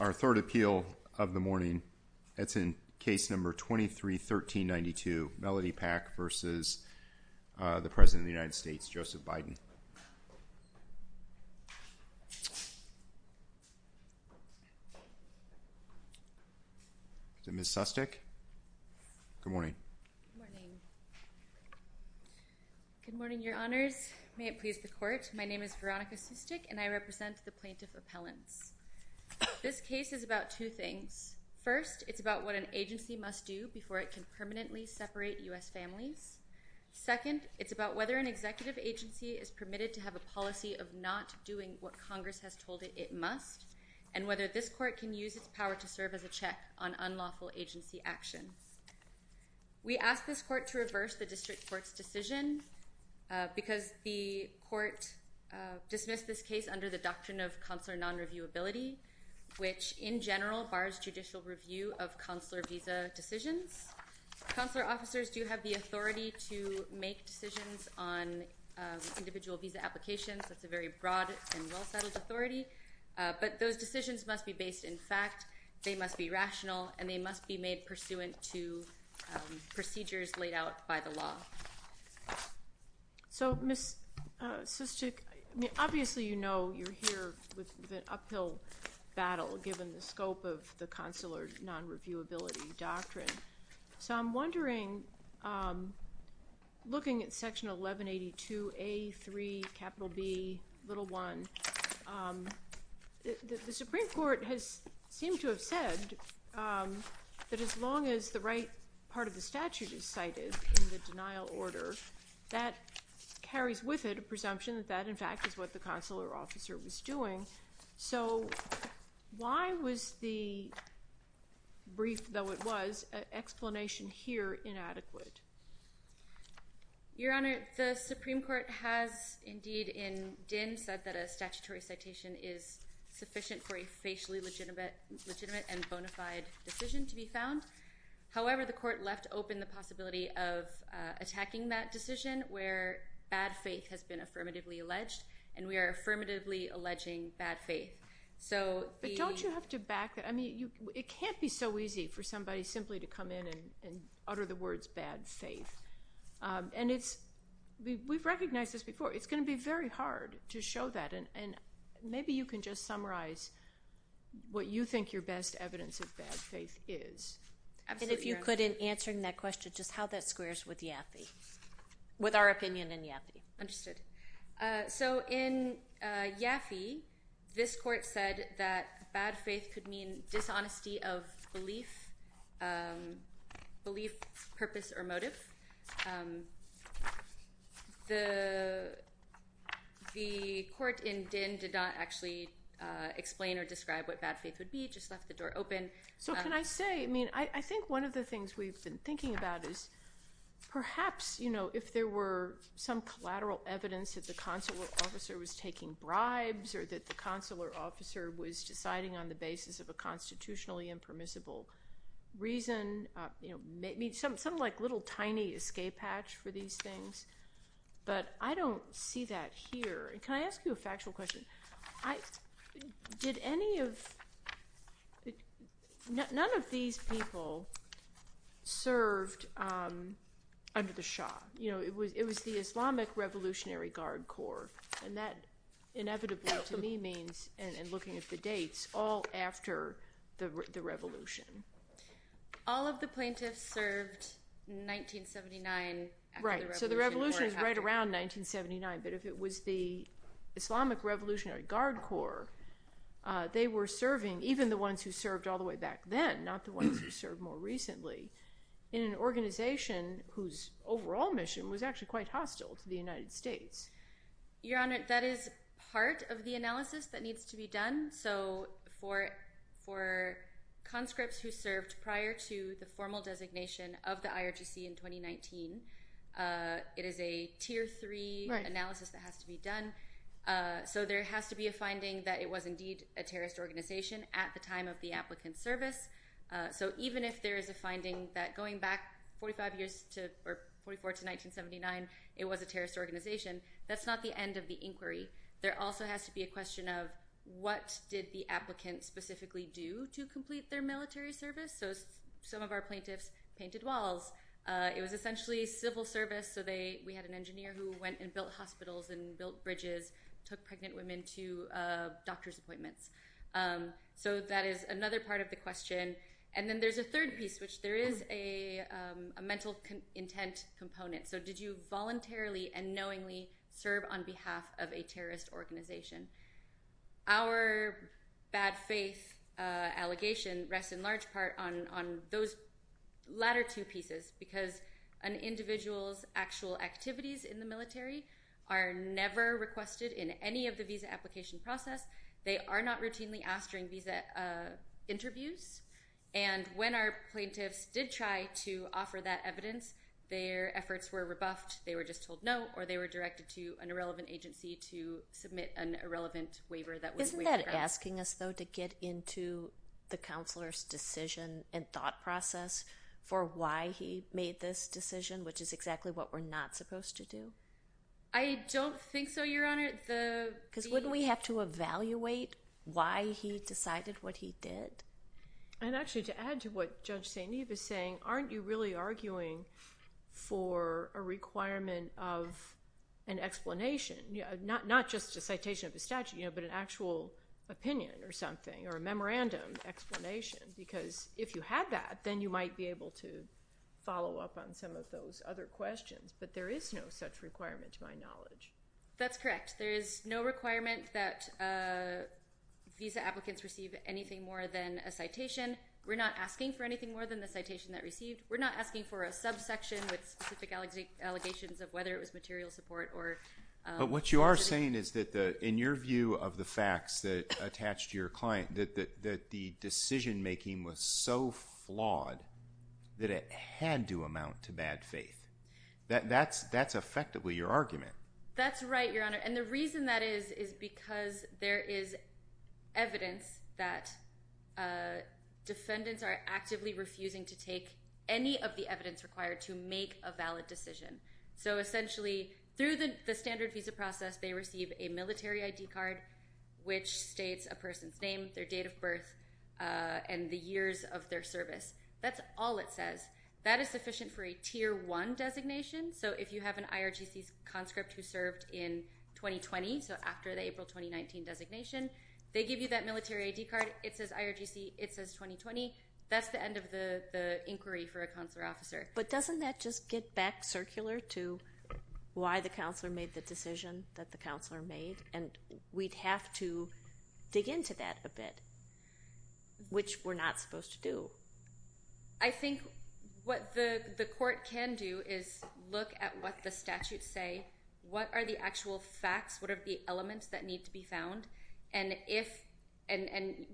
Our third appeal of the morning, that's in case number 23-1392, Melody Pak v. the President of the United States, Joseph Biden. Is it Ms. Sustek? Good morning. Good morning. Good morning, Your Honors. May it please the Court, my name is Veronica Sustek and I represent the Plaintiff Appellants. This case is about two things. First, it's about what an agency must do before it can permanently separate U.S. families. Second, it's about whether an executive agency is permitted to have a policy of not doing what Congress has told it it must, and whether this Court can use its power to serve as a check on unlawful agency actions. We ask this Court to reverse the District Court's decision because the Court dismissed this case under the doctrine of consular non-reviewability, which in general bars judicial review of consular visa decisions. Consular officers do have the authority to make decisions on individual visa applications. That's a very broad and well-settled authority. But those decisions must be based in fact, they must be rational, and they must be made pursuant to procedures laid out by the law. So Ms. Sustek, obviously you know you're here with the uphill battle given the scope of the consular non-reviewability doctrine. So I'm wondering, looking at Section 1182A.3 capital B, little one, the Supreme Court has that carries with it a presumption that that in fact is what the consular officer was doing. So why was the brief, though it was, explanation here inadequate? Your Honor, the Supreme Court has indeed in Din said that a statutory citation is sufficient for a facially legitimate and bona fide decision to be found. However, the court left open the possibility of attacking that decision where bad faith has been affirmatively alleged, and we are affirmatively alleging bad faith. But don't you have to back that? I mean, it can't be so easy for somebody simply to come in and utter the words bad faith. And we've recognized this before. It's going to be very hard to show that. And maybe you can just summarize what you think your best evidence of bad faith is. Absolutely, Your Honor. And if you could, in answering that question, just how that squares with Yaffe, with our opinion in Yaffe. Understood. So in Yaffe, this court said that bad faith could mean dishonesty of belief, belief, purpose, or motive. The court in Din did not actually explain or describe what bad faith would be. It just left the door open. So can I say, I mean, I think one of the things we've been thinking about is perhaps, you know, if there were some collateral evidence that the consular officer was taking bribes or that the consular officer was deciding on the basis of a constitutionally impermissible reason, something like a little tiny escape hatch for these things. But I don't see that here. Can I ask you a factual question? None of these people served under the Shah. You know, it was the Islamic Revolutionary Guard Corps. And that inevitably, to me, means, and looking at the dates, all after the revolution. All of the plaintiffs served in 1979. Right. So the revolution was right around 1979. But if it was the Islamic Revolutionary Guard Corps, they were serving, even the ones who served all the way back then, not the ones who served more recently, in an organization whose overall mission was actually quite hostile to the United States. Your Honor, that is part of the analysis that needs to be done. So for conscripts who served prior to the formal designation of the IRGC in 2019, it is a Tier 3 analysis that has to be done. So there has to be a finding that it was indeed a terrorist organization at the time of the applicant's service. So even if there is a finding that going back 45 years to, or 44 to 1979, it was a terrorist organization, that's not the end of the inquiry. There also has to be a question of what did the applicant specifically do to complete their military service? So some of our plaintiffs painted walls. It was essentially civil service. So we had an engineer who went and built hospitals and built bridges, took pregnant women to doctor's appointments. So that is another part of the question. And then there's a third piece, which there is a mental intent component. So did you voluntarily and knowingly serve on behalf of a terrorist organization? Our bad faith allegation rests in large part on those latter two pieces because an individual's actual activities in the military are never requested in any of the visa application process. They are not routinely asked during visa interviews. And when our plaintiffs did try to offer that evidence, their efforts were rebuffed, they were just told no, or they were directed to an irrelevant agency to submit an irrelevant waiver. Isn't that asking us, though, to get into the counselor's decision and thought process for why he made this decision, which is exactly what we're not supposed to do? I don't think so, Your Honor. Because wouldn't we have to evaluate why he decided what he did? And actually to add to what Judge St. Eve is saying, aren't you really arguing for a requirement of an explanation, not just a citation of a statute, but an actual opinion or something, or a memorandum explanation? Because if you have that, then you might be able to follow up on some of those other questions. But there is no such requirement to my knowledge. That's correct. There is no requirement that visa applicants receive anything more than a citation. We're not asking for anything more than the citation that received. We're not asking for a subsection with specific allegations of whether it was material support. But what you are saying is that in your view of the facts that attach to your client, that the decision-making was so flawed that it had to amount to bad faith. That's effectively your argument. That's right, Your Honor. And the reason that is is because there is evidence that defendants are actively refusing to take any of the evidence required to make a valid decision. So essentially through the standard visa process, they receive a military ID card which states a person's name, their date of birth, and the years of their service. That's all it says. That is sufficient for a Tier 1 designation. So if you have an IRGC conscript who served in 2020, so after the April 2019 designation, they give you that military ID card. It says IRGC. It says 2020. That's the end of the inquiry for a counselor-officer. But doesn't that just get back circular to why the counselor made the decision that the counselor made? And we'd have to dig into that a bit, which we're not supposed to do. I think what the court can do is look at what the statutes say. What are the actual facts? What are the elements that need to be found? And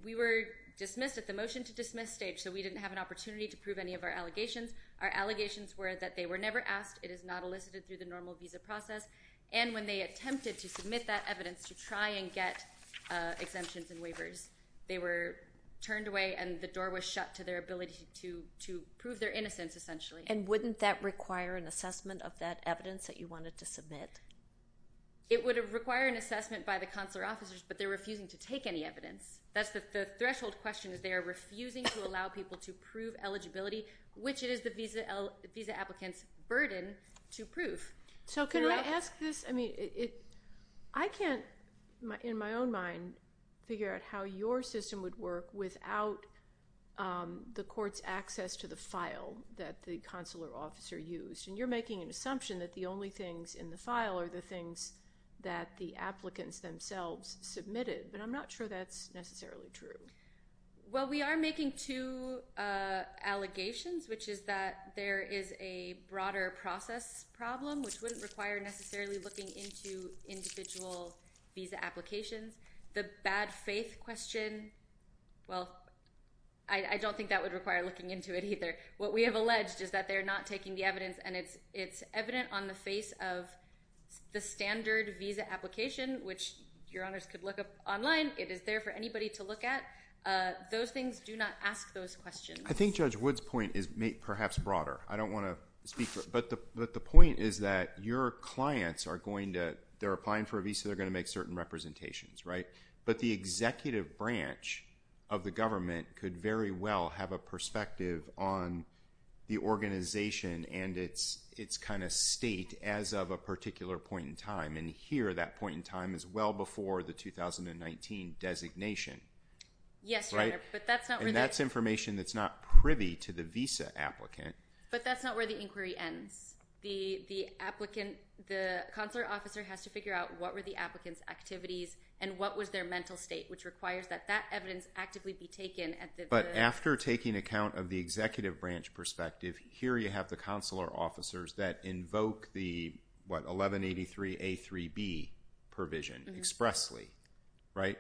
we were dismissed at the motion-to-dismiss stage, so we didn't have an opportunity to prove any of our allegations. Our allegations were that they were never asked, it is not elicited through the normal visa process, and when they attempted to submit that evidence to try and get exemptions and waivers, they were turned away and the door was shut to their ability to prove their innocence, essentially. And wouldn't that require an assessment of that evidence that you wanted to submit? It would require an assessment by the counselor-officers, but they're refusing to take any evidence. The threshold question is they are refusing to allow people to prove eligibility, which it is the visa applicant's burden to prove. So can I ask this? I mean, I can't, in my own mind, figure out how your system would work without the court's access to the file that the counselor-officer used, and you're making an assumption that the only things in the file are the things that the applicants themselves submitted, but I'm not sure that's necessarily true. Well, we are making two allegations, which is that there is a broader process problem, which wouldn't require necessarily looking into individual visa applications. The bad faith question, well, I don't think that would require looking into it either. What we have alleged is that they're not taking the evidence and it's evident on the face of the standard visa application, which your honors could look up online. It is there for anybody to look at. Those things do not ask those questions. I think Judge Wood's point is perhaps broader. I don't want to speak for it, but the point is that your clients are going to, they're applying for a visa, they're going to make certain representations, right? But the executive branch of the government could very well have a perspective on the organization and its kind of state as of a particular point in time, and here that point in time is well before the 2019 designation. Yes, Your Honor, but that's not really. But that's not where the inquiry ends. The consular officer has to figure out what were the applicant's activities and what was their mental state, which requires that that evidence actively be taken. But after taking account of the executive branch perspective, here you have the consular officers that invoke the, what, 1183A3B provision expressly, right?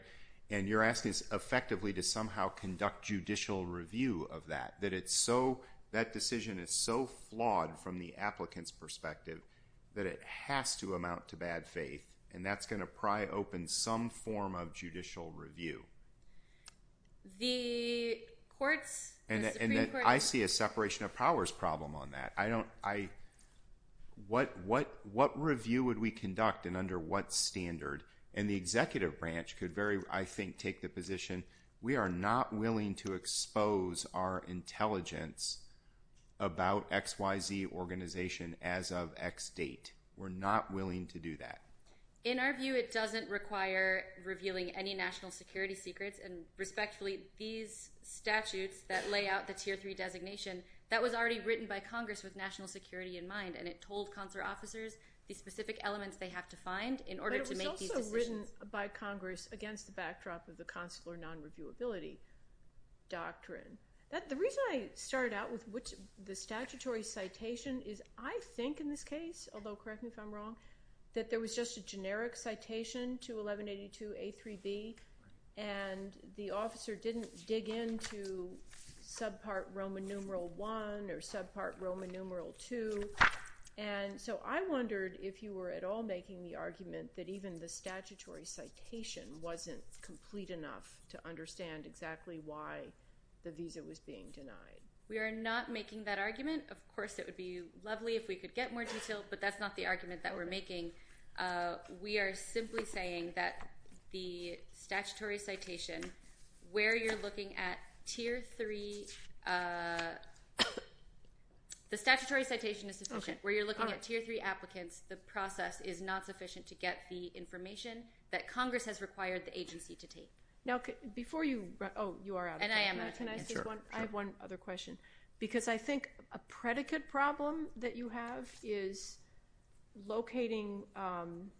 And you're asking us effectively to somehow conduct judicial review of that, that it's so, that decision is so flawed from the applicant's perspective that it has to amount to bad faith. And that's going to pry open some form of judicial review. The courts. And I see a separation of powers problem on that. I don't, I, what, what, what review would we conduct and under what standard and the executive branch could very, I think, take the position. We are not willing to expose our intelligence about X, Y, Z organization as of X date. We're not willing to do that. In our view, it doesn't require revealing any national security secrets and respectfully these statutes that lay out the tier three designation that was already written by Congress with national security in mind. And it told consular officers the specific elements they have to find in order to make these decisions. By Congress against the backdrop of the consular non-reviewability doctrine that the reason I started out with, which the statutory citation is I think in this case, although correct me if I'm wrong, that there was just a generic citation to 1182 a three B and the officer didn't dig into subpart Roman numeral one or subpart Roman numeral two. And so I wondered if you were at all making the argument that even the statutory citation wasn't complete enough to understand exactly why the visa was being denied. We are not making that argument. Of course it would be lovely if we could get more detailed, but that's not the argument that we're making. Uh, we are simply saying that the statutory citation where you're looking at tier three, uh, the statutory citation is sufficient where you're looking at tier three that Congress has required the agency to take. Okay. Before you, oh, you are out. And I am. I have one other question because I think a predicate problem that you have is locating, um,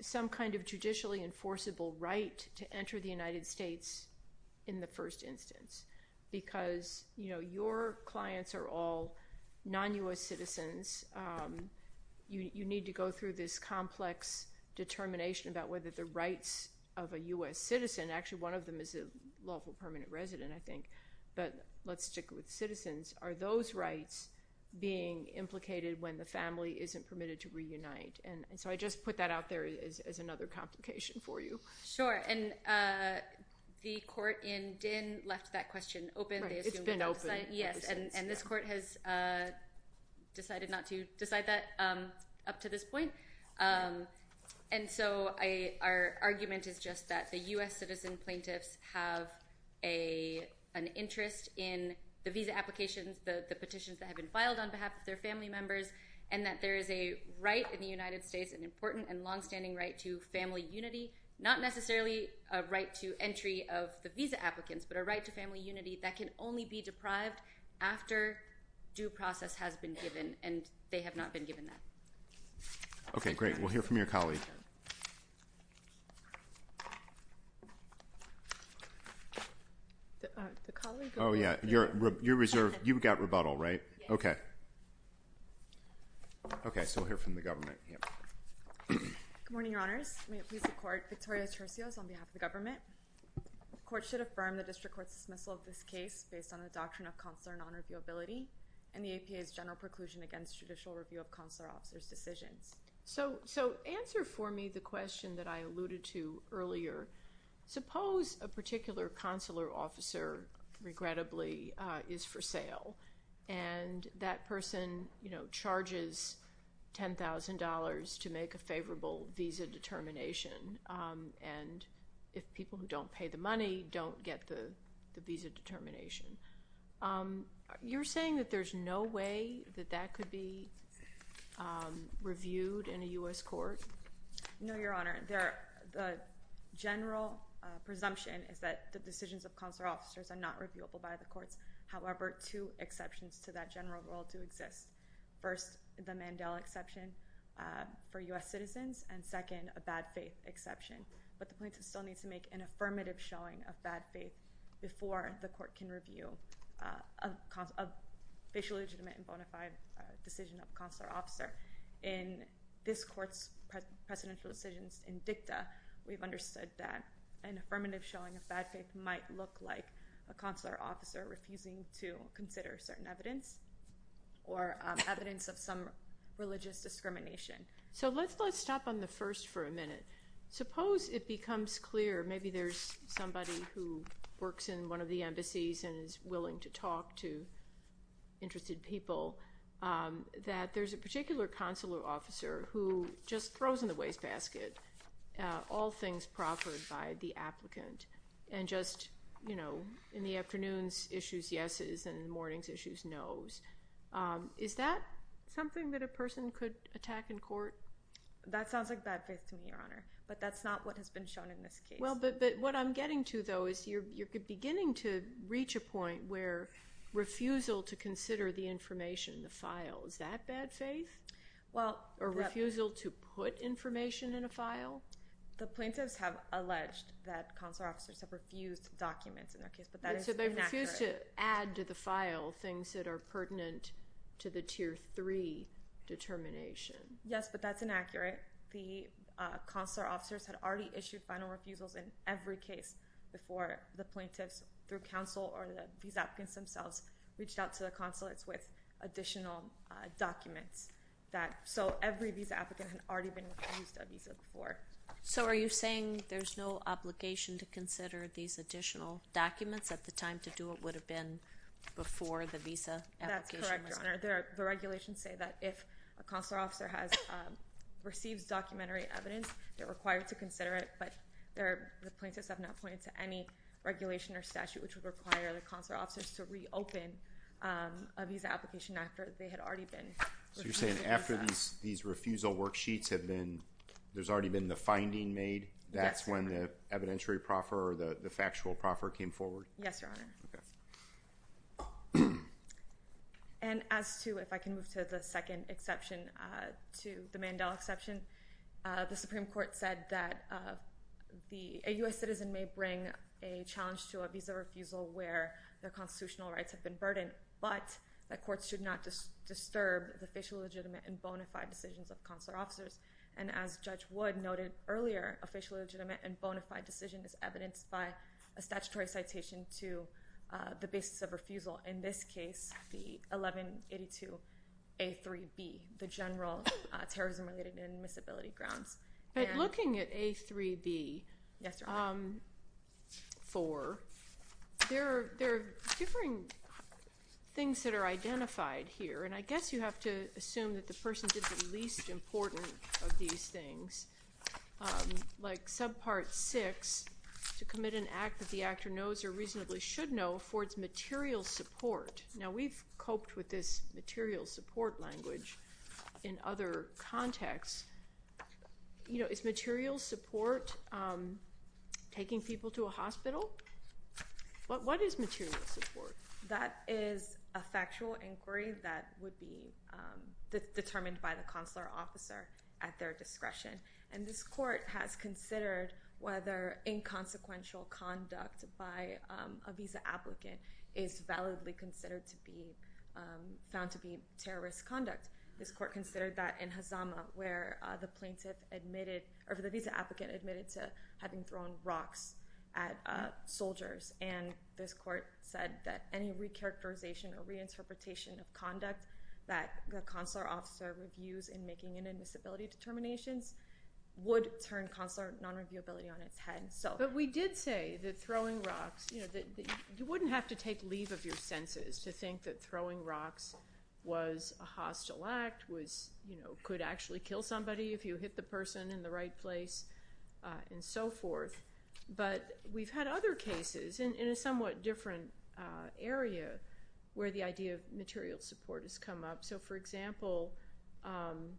some kind of judicially enforceable right to enter the United States in the first instance because you know, your clients are all non U.S. citizens. Um, you need to go through this complex determination about whether the rights of a U.S. citizen, actually one of them is a lawful permanent resident, I think, but let's stick with citizens. Are those rights being implicated when the family isn't permitted to reunite? And so I just put that out there as another complication for you. Sure. And, uh, the court in Din left that question open. It's been open. Yes. And this court has, uh, um, up to this point. Um, and so I, our argument is just that the U.S. citizen plaintiffs have a, an interest in the visa applications, the petitions that have been filed on behalf of their family members and that there is a right in the United States and important and longstanding right to family unity, not necessarily a right to entry of the visa applicants, but a right to family unity that can only be deprived after due process has been given. And they have not been given that. Okay, great. We'll hear from your colleague. Oh, yeah. Your, your reserve. You've got rebuttal, right? Okay. Okay. So we'll hear from the government. Yep. Good morning, your honors. May it please the court. Victoria Tercio is on behalf of the government. the doctrine of consular non-reviewability and the APA's general preclusion against the government. So, so answer for me the question that I alluded to earlier, suppose a particular consular officer regrettably is for sale. And that person, you know, charges $10,000 to make a favorable visa determination. And if people who don't pay the money don't get the, You're saying that there's no way that that could be the case. reviewed in a U.S. court? No, your honor. There, the general presumption is that the decisions of consular officers are not reviewable by the courts. However, two exceptions to that general rule do exist. First, the Mandela exception, uh, for U.S. citizens and second, a bad faith exception, but the plaintiff still needs to make an affirmative showing of bad faith before the court can review, uh, of, of facial legitimate and bona fide, uh, decision of consular officer in this court's presidential decisions in dicta. We've understood that an affirmative showing of bad faith might look like a consular officer refusing to consider certain evidence or, um, evidence of some religious discrimination. So let's, let's stop on the first for a minute. Suppose it becomes clear. Maybe there's somebody who works in one of the embassies and is willing to talk to interested people. Um, that there's a particular consular officer who just throws in the waste basket, uh, all things proffered by the applicant and just, you know, in the afternoons issues, yeses and mornings issues, nos. Um, is that something that a person could attack in court? That sounds like bad faith to me, Your Honor, but that's not what has been shown in this case. Well, but, but what I'm getting to though, is you're, you're beginning to reach a point where refusal to consider the information, the file is that bad faith? Well, or refusal to put information in a file. The plaintiffs have alleged that consular officers have refused documents in their case, but that is so they refuse to add to the file things that are pertinent to the tier three determination. Yes, but that's inaccurate. The, uh, consular officers had already issued final refusals in every case before the plaintiffs through counsel or these applicants themselves reached out to the consulates with additional, uh, documents that, so every visa applicant had already been refused a visa before. So are you saying there's no obligation to consider these additional documents at the time to do it would have been before the visa application? That's correct, Your Honor. There are, the regulations say that if a consular officer has, um, receives documentary evidence, they're required to consider it, but there are the plaintiffs have not pointed to any regulation or statute, which would require the consular officers to reopen, um, a visa application after they had already been. So you're saying after these, these refusal worksheets have been, there's already been the finding made. That's when the evidentiary proffer or the factual proffer came forward. Yes, Your Honor. Okay. And as to, if I can move to the second exception, uh, to the Mandela exception, uh, the Supreme court said that, uh, the, a U S citizen may bring a challenge to a visa refusal where the constitutional rights have been burdened, but the courts should not just disturb the facial legitimate and bonafide decisions of consular officers. And as judge Wood noted earlier, a facial legitimate and bonafide decision is evidenced by a statutory citation to, uh, the basis of refusal. In this case, the 1182, a three B the general, uh, terrorism related and miscibility grounds. But looking at a three B. Yes. Um, four, there, there are different things that are identified here. And I guess you have to assume that the person did the least important of these things, um, like subpart six to commit an act that the actor knows or reasonably should know for its material support. Now we've coped with this material support language in other contexts, you know, it's material support. Um, taking people to a hospital. What, what is material support? That is a factual inquiry that would be, um, determined by the consular officer at their discretion. And this court has considered whether inconsequential conduct by, um, a visa applicant is validly considered to be, um, found to be terrorist conduct. This court considered that in Hazama where, uh, a plaintiff admitted or the visa applicant admitted to having thrown rocks at, uh, soldiers. And this court said that any recharacterization or reinterpretation of conduct that the consular officer reviews in making an admissibility determinations would turn consular non-reviewability on its head. So, but we did say that throwing rocks, you know, that you wouldn't have to take leave of your senses to think that throwing rocks was a hostile act was, you know, could actually kill somebody if you hit the person in the right place, uh, and so forth. But we've had other cases in, in a somewhat different, uh, area where the idea of material support has come up. So for example, um,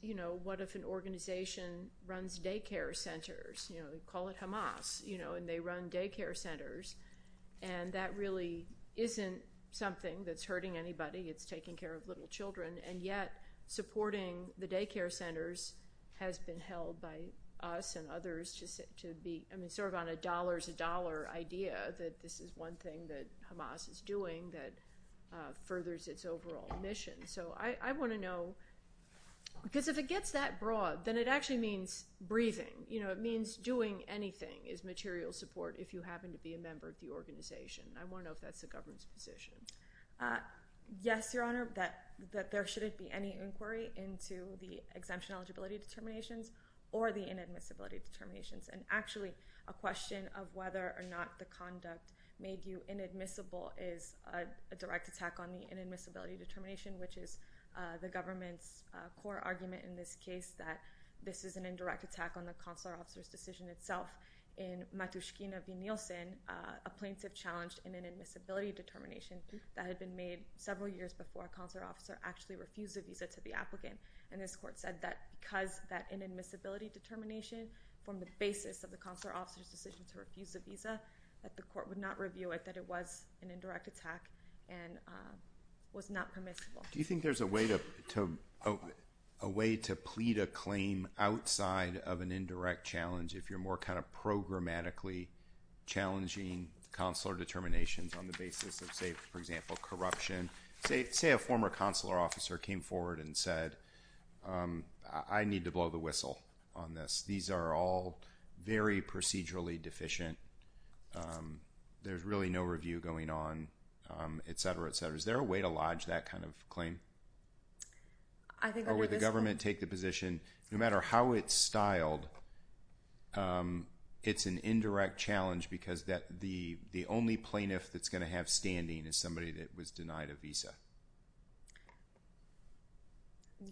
you know, what if an organization runs daycare centers, you know, we call it Hamas, you know, and they run daycare centers and that really isn't something that's hurting anybody. It's taking care of little children and yet supporting the daycare centers has been held by us and others to sit, to be, I mean, sort of on a dollar's a dollar idea that this is one thing that Hamas is doing that, uh, furthers its overall mission. So I, I want to know because if it gets that broad, then it actually means breathing. You know, it means doing anything is material support. If you happen to be a member of the organization, I want to know if that's the government's position. Uh, yes, your honor, that, that there shouldn't be any inquiry into the exemption eligibility determinations or the inadmissibility determinations. And actually a question of whether or not the conduct made you inadmissible is a direct attack on the inadmissibility determination, which is, uh, the government's, uh, core argument in this case that this is an indirect attack on the consular officer's decision itself in Matushkina v. Nielsen, uh, plaintiff challenged in an admissibility determination that had been made several years before a consular officer actually refused a visa to the applicant. And this court said that because that inadmissibility determination from the basis of the consular officer's decision to refuse a visa, that the court would not review it, that it was an indirect attack and, uh, was not permissible. Do you think there's a way to, to, oh, a way to plead a claim outside of an indirect challenge? If you're more kind of programmatically challenging, consular determinations on the basis of say, for example, corruption, say, say a former consular officer came forward and said, um, I need to blow the whistle on this. These are all very procedurally deficient. Um, there's really no review going on, um, et cetera, et cetera. Is there a way to lodge that kind of claim? I think, or would the government take the position no matter how it's styled? Um, it's an indirect challenge because that the, the only plaintiff that's going to have standing is somebody that was denied a visa.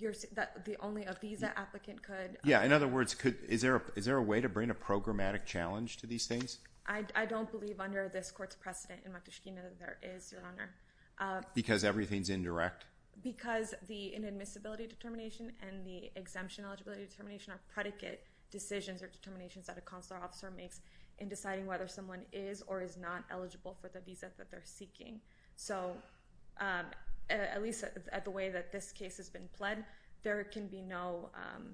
You're the only, a visa applicant could. Yeah. In other words, could, is there a, is there a way to bring a programmatic challenge to these things? I, I don't believe under this court's precedent in Montesquieu that there is your honor, uh, because everything's indirect because the inadmissibility determination and the exemption eligibility determination of predicate decisions or decisions that the consular officer makes in deciding whether someone is or is not eligible for the visa that they're seeking. So, um, at least at the way that this case has been pled, there can be no, um,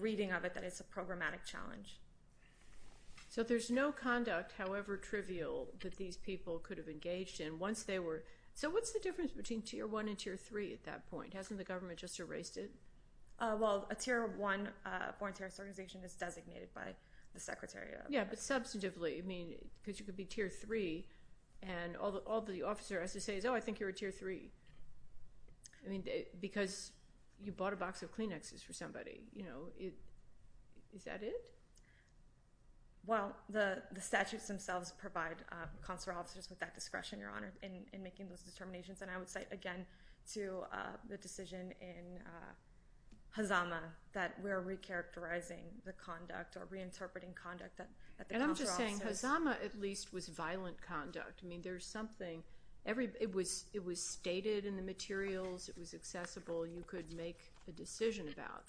reading of it, that it's a programmatic challenge. So there's no conduct, however trivial that these people could have engaged in once they were. So what's the difference between tier one and tier three at that point? Hasn't the government just erased it? Uh, well, a tier one, uh, foreign terrorist organization is designated by the secretary. Yeah. But substantively, I mean, cause you could be tier three and all the, all the officer has to say is, Oh, I think you're a tier three. I mean, because you bought a box of Kleenexes for somebody, you know, is, is that it? Well, the, the statutes themselves provide, uh, consular officers with that discretion, your honor in, in making those determinations. And I would say again to, uh, the decision in, uh, Hazama that we're recharacterizing the conduct or reinterpreting conduct that, that the consular officers. And I'm just saying Hazama at least was violent conduct. I mean, there's something every, it was, it was stated in the materials, it was accessible. You could make a decision about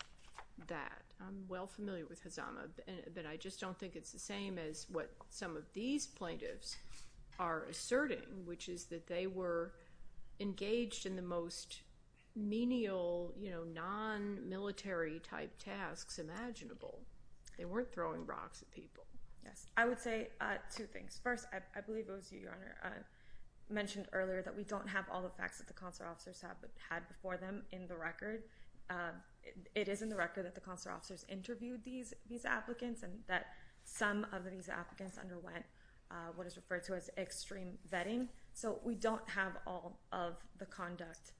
that. I'm well familiar with Hazama, but I just don't think it's the same as what some of these plaintiffs are asserting, which is that they were engaged in the most menial, you know, non-military type tasks imaginable. They weren't throwing rocks at people. Yes. I would say, uh, two things. First, I believe it was you, your honor, uh, mentioned earlier that we don't have all the facts that the consular officers have had before them in the record. it is in the record that the consular officers interviewed these, these applicants and that some of these applicants underwent, uh, what is referred to as extreme vetting. So we don't have all of the conduct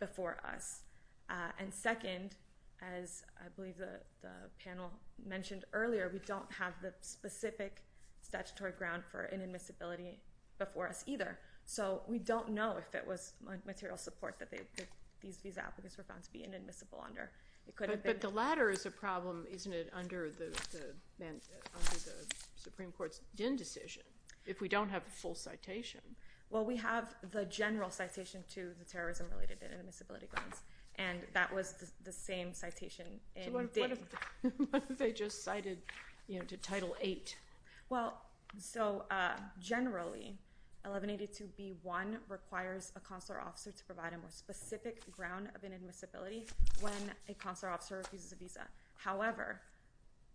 before us. Uh, and second, as I believe the, the panel mentioned earlier, we don't have the specific statutory ground for inadmissibility before us either. So we don't know if it was material support that they, that these, these applicants were found to be inadmissible under it. Could it, but the ladder is a problem, isn't it under the, the man, under the Supreme court's decision. If we don't have the full citation. Well, we have the general citation to the terrorism related inadmissibility grounds. And that was the same citation. They just cited, you know, to title eight. Well, so, uh, generally 1182 B one requires a consular officer to provide a more specific ground of inadmissibility when a consular officer refuses a visa. However,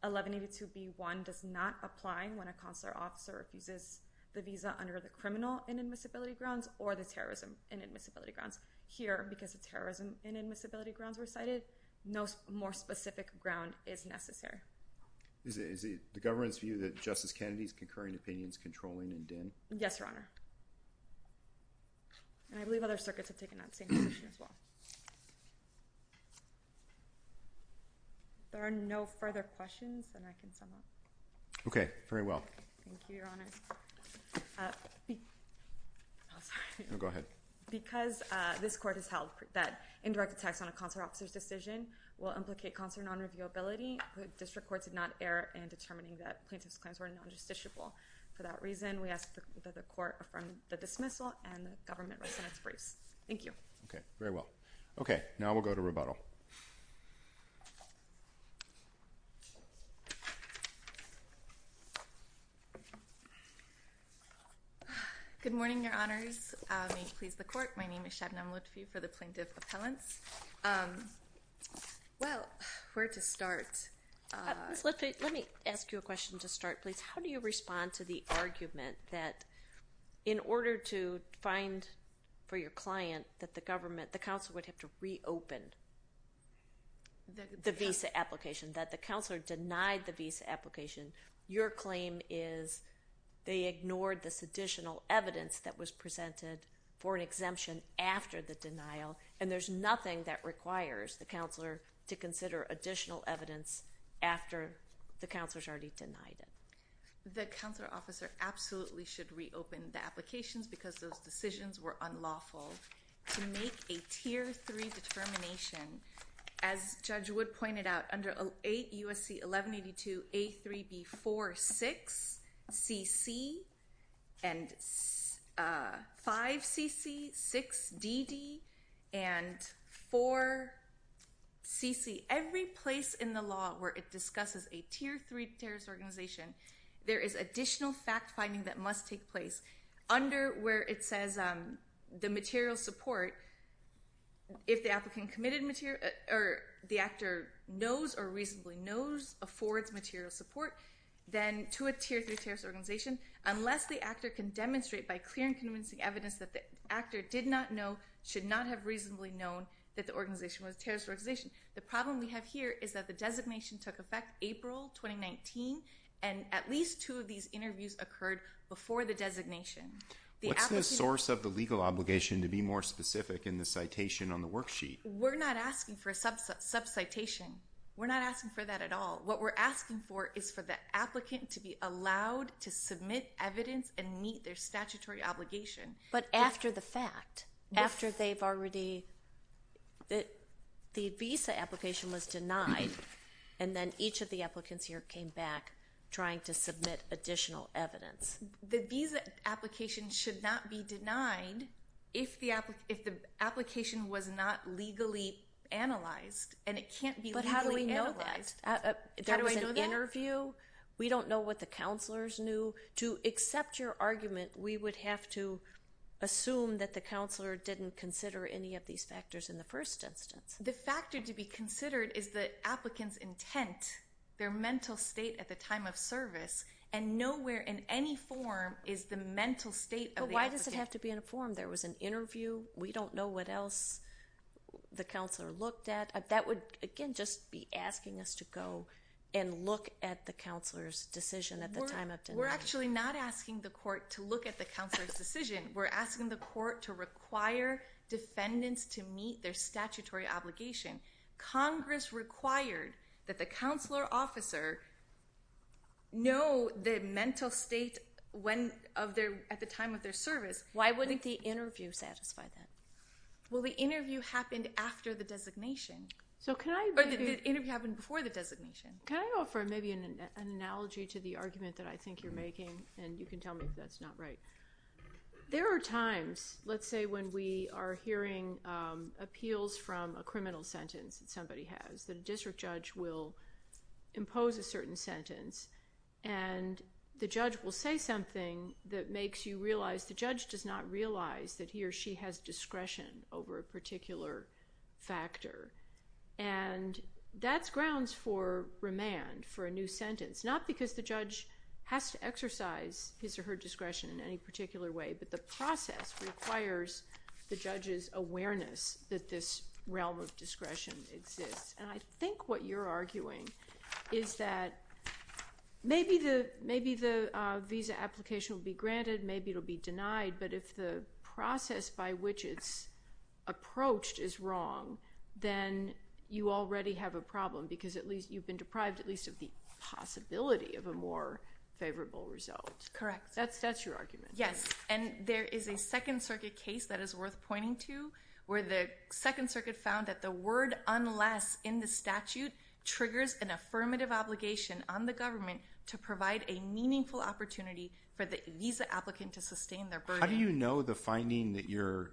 1182 B one does not apply when a consular officer refuses the visa under the criminal inadmissibility grounds or the terrorism inadmissibility grounds here, because of terrorism inadmissibility grounds were cited. No more specific ground is necessary. Is it, is it the government's view that justice Kennedy's concurring opinions, controlling and dim? Yes, Your Honor. And I believe other circuits have taken that same position as well. There are no further questions and I can sum up. Okay. Very well. Thank you, Your Honor. Uh, I'm sorry. No, go ahead. Okay. Because, uh, this court has held that indirect attacks on a consular officer's decision will implicate concert non-review ability. District courts did not err in determining that plaintiff's claims were non-justiciable. For that reason, we asked the court from the dismissal and the government. Thank you. Okay. Very well. Okay. Now we'll go to rebuttal. Good morning, Your Honors. Please. The court. My name is Shannon. I'm looking for the plaintiff appellants. Um, well, where to start. Uh, let me, let me ask you a question to start, please. How do you respond to the argument that in order to find for your client, that the government, the council would have to reopen the visa application that the counselor denied the visa application. Your claim is they ignored this additional evidence that was presented for an exemption after the denial. And there's nothing that requires the counselor to consider additional evidence. After the counselor's already denied it. The counselor officer absolutely should reopen the applications because those decisions were unlawful to make a tier three determination. As judge would point it out under eight USC, 1182, a three B four six CC. And, uh, five CC six DD and four. CC every place in the law where it discusses a tier three terrorist organization, there is additional fact finding that must take place under where it says, um, the material support. If the applicant committed material or the actor knows or reasonably knows affords material support, then to a tier three terrorist organization, unless the actor can demonstrate by clear and convincing evidence that the actor did not know, should not have reasonably known that the organization was terrorist organization. The problem we have here is that the designation took effect April, 2019. And at least two of these interviews occurred before the designation, the source of the legal obligation to be more specific in the citation on the worksheet. We're not asking for a subset sub citation. We're not asking for that at all. What we're asking for is for the applicant to be allowed to submit evidence and meet their statutory obligation. But after the fact, after they've already that the visa application was denied. And then each of the applicants here came back trying to submit additional evidence. The visa application should not be denied. If the app, if the application was not legally analyzed and it can't be, how do we know that there was an interview? We don't know what the counselors knew to accept your argument. We would have to assume that the counselor didn't consider any of these factors. In the first instance, the factor to be considered is the applicants intent, their mental state at the time of service and nowhere in any form is the mental state. Why does it have to be in a form? There was an interview. We don't know what else the counselor looked at. That would again, just be asking us to go and look at the counselor's decision at the time of, we're actually not asking the court to look at the counselor's decision. We're asking the court to require defendants to meet their statutory obligation. Congress required that the counselor officer know the mental state when of their, at the time of their service. Why wouldn't the interview satisfy that? Well, the interview happened after the designation. So can I, or the interview happened before the designation? Can I go for maybe an analogy to the argument that I think you're making? And you can tell me if that's not right. There are times let's say when we are hearing appeals from a criminal sentence that somebody has, that a district judge will impose a certain sentence and the judge will say something that makes you realize the judge does not realize that he or she has discretion over a particular factor. And that's grounds for remand for a new sentence, not because the judge has to exercise his or her discretion in any particular way, but the process requires the judge's awareness that this realm of discretion exists. And I think what you're arguing is that maybe the, maybe the visa application will be granted, maybe it'll be denied, but if the process by which it's approached is wrong, then you already have a problem because at least you've been deprived at least of the possibility of a more favorable result. Correct. That's that's your argument. Yes. And there is a second circuit case that is worth pointing to where the second circuit found that the word unless in the statute triggers an affirmative obligation on the government to provide a meaningful opportunity for the visa applicant to sustain their burden. How do you know the finding that you're,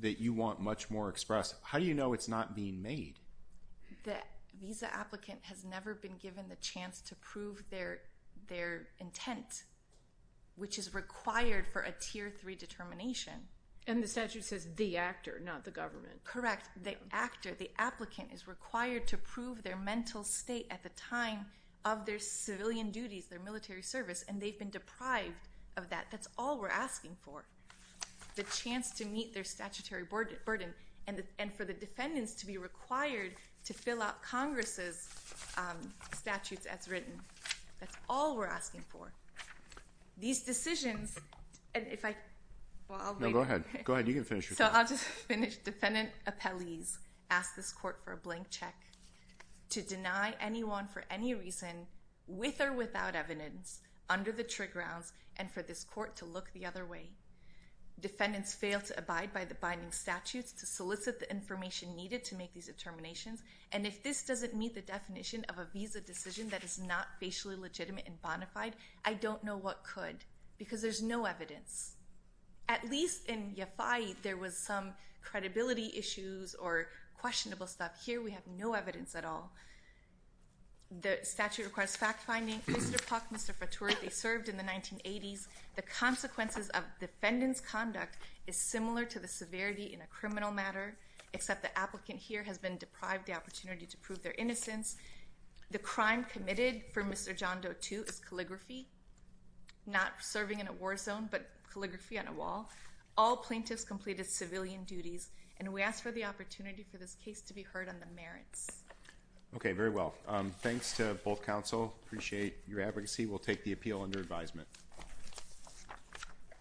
that you want much more express? How do you know it's not being made? That visa applicant has never been given the chance to prove their, their intent, which is required for a tier three determination. And the statute says the actor, not the government. Correct. The actor, the applicant is required to prove their mental state at the time of their civilian duties, their military service. And they've been deprived of that. That's all we're asking for the chance to meet their statutory board burden and the, and for the defendants to be required to fill out Congress's statutes as written. That's all we're asking for these decisions. And if I, well, I'll go ahead. Go ahead. You can finish. So I'll just finish. Defendant appellees ask this court for a blank check to deny anyone for any reason with or without evidence under the trigger rounds. And for this court to look the other way, defendants fail to abide by the binding statutes to solicit the information needed to make these determinations. And if this doesn't meet the definition of a visa decision that is not basically legitimate and bonafide, I don't know what could because there's no evidence at least in your fight. There was some credibility issues or questionable stuff here. We have no evidence at all. The statute request fact finding Mr. Puck, Mr. Fatura, they served in the 1980s. The consequences of defendants conduct is similar to the severity in a criminal matter, except the applicant here has been deprived the opportunity to prove their innocence. The crime committed for Mr. John Doe to his calligraphy, not serving in a war zone, but calligraphy on a wall, all plaintiffs completed civilian duties. And we asked for the opportunity for this case to be heard on the merits. Okay. Very well. Thanks to both counsel. Appreciate your advocacy. We'll take the appeal under advisement.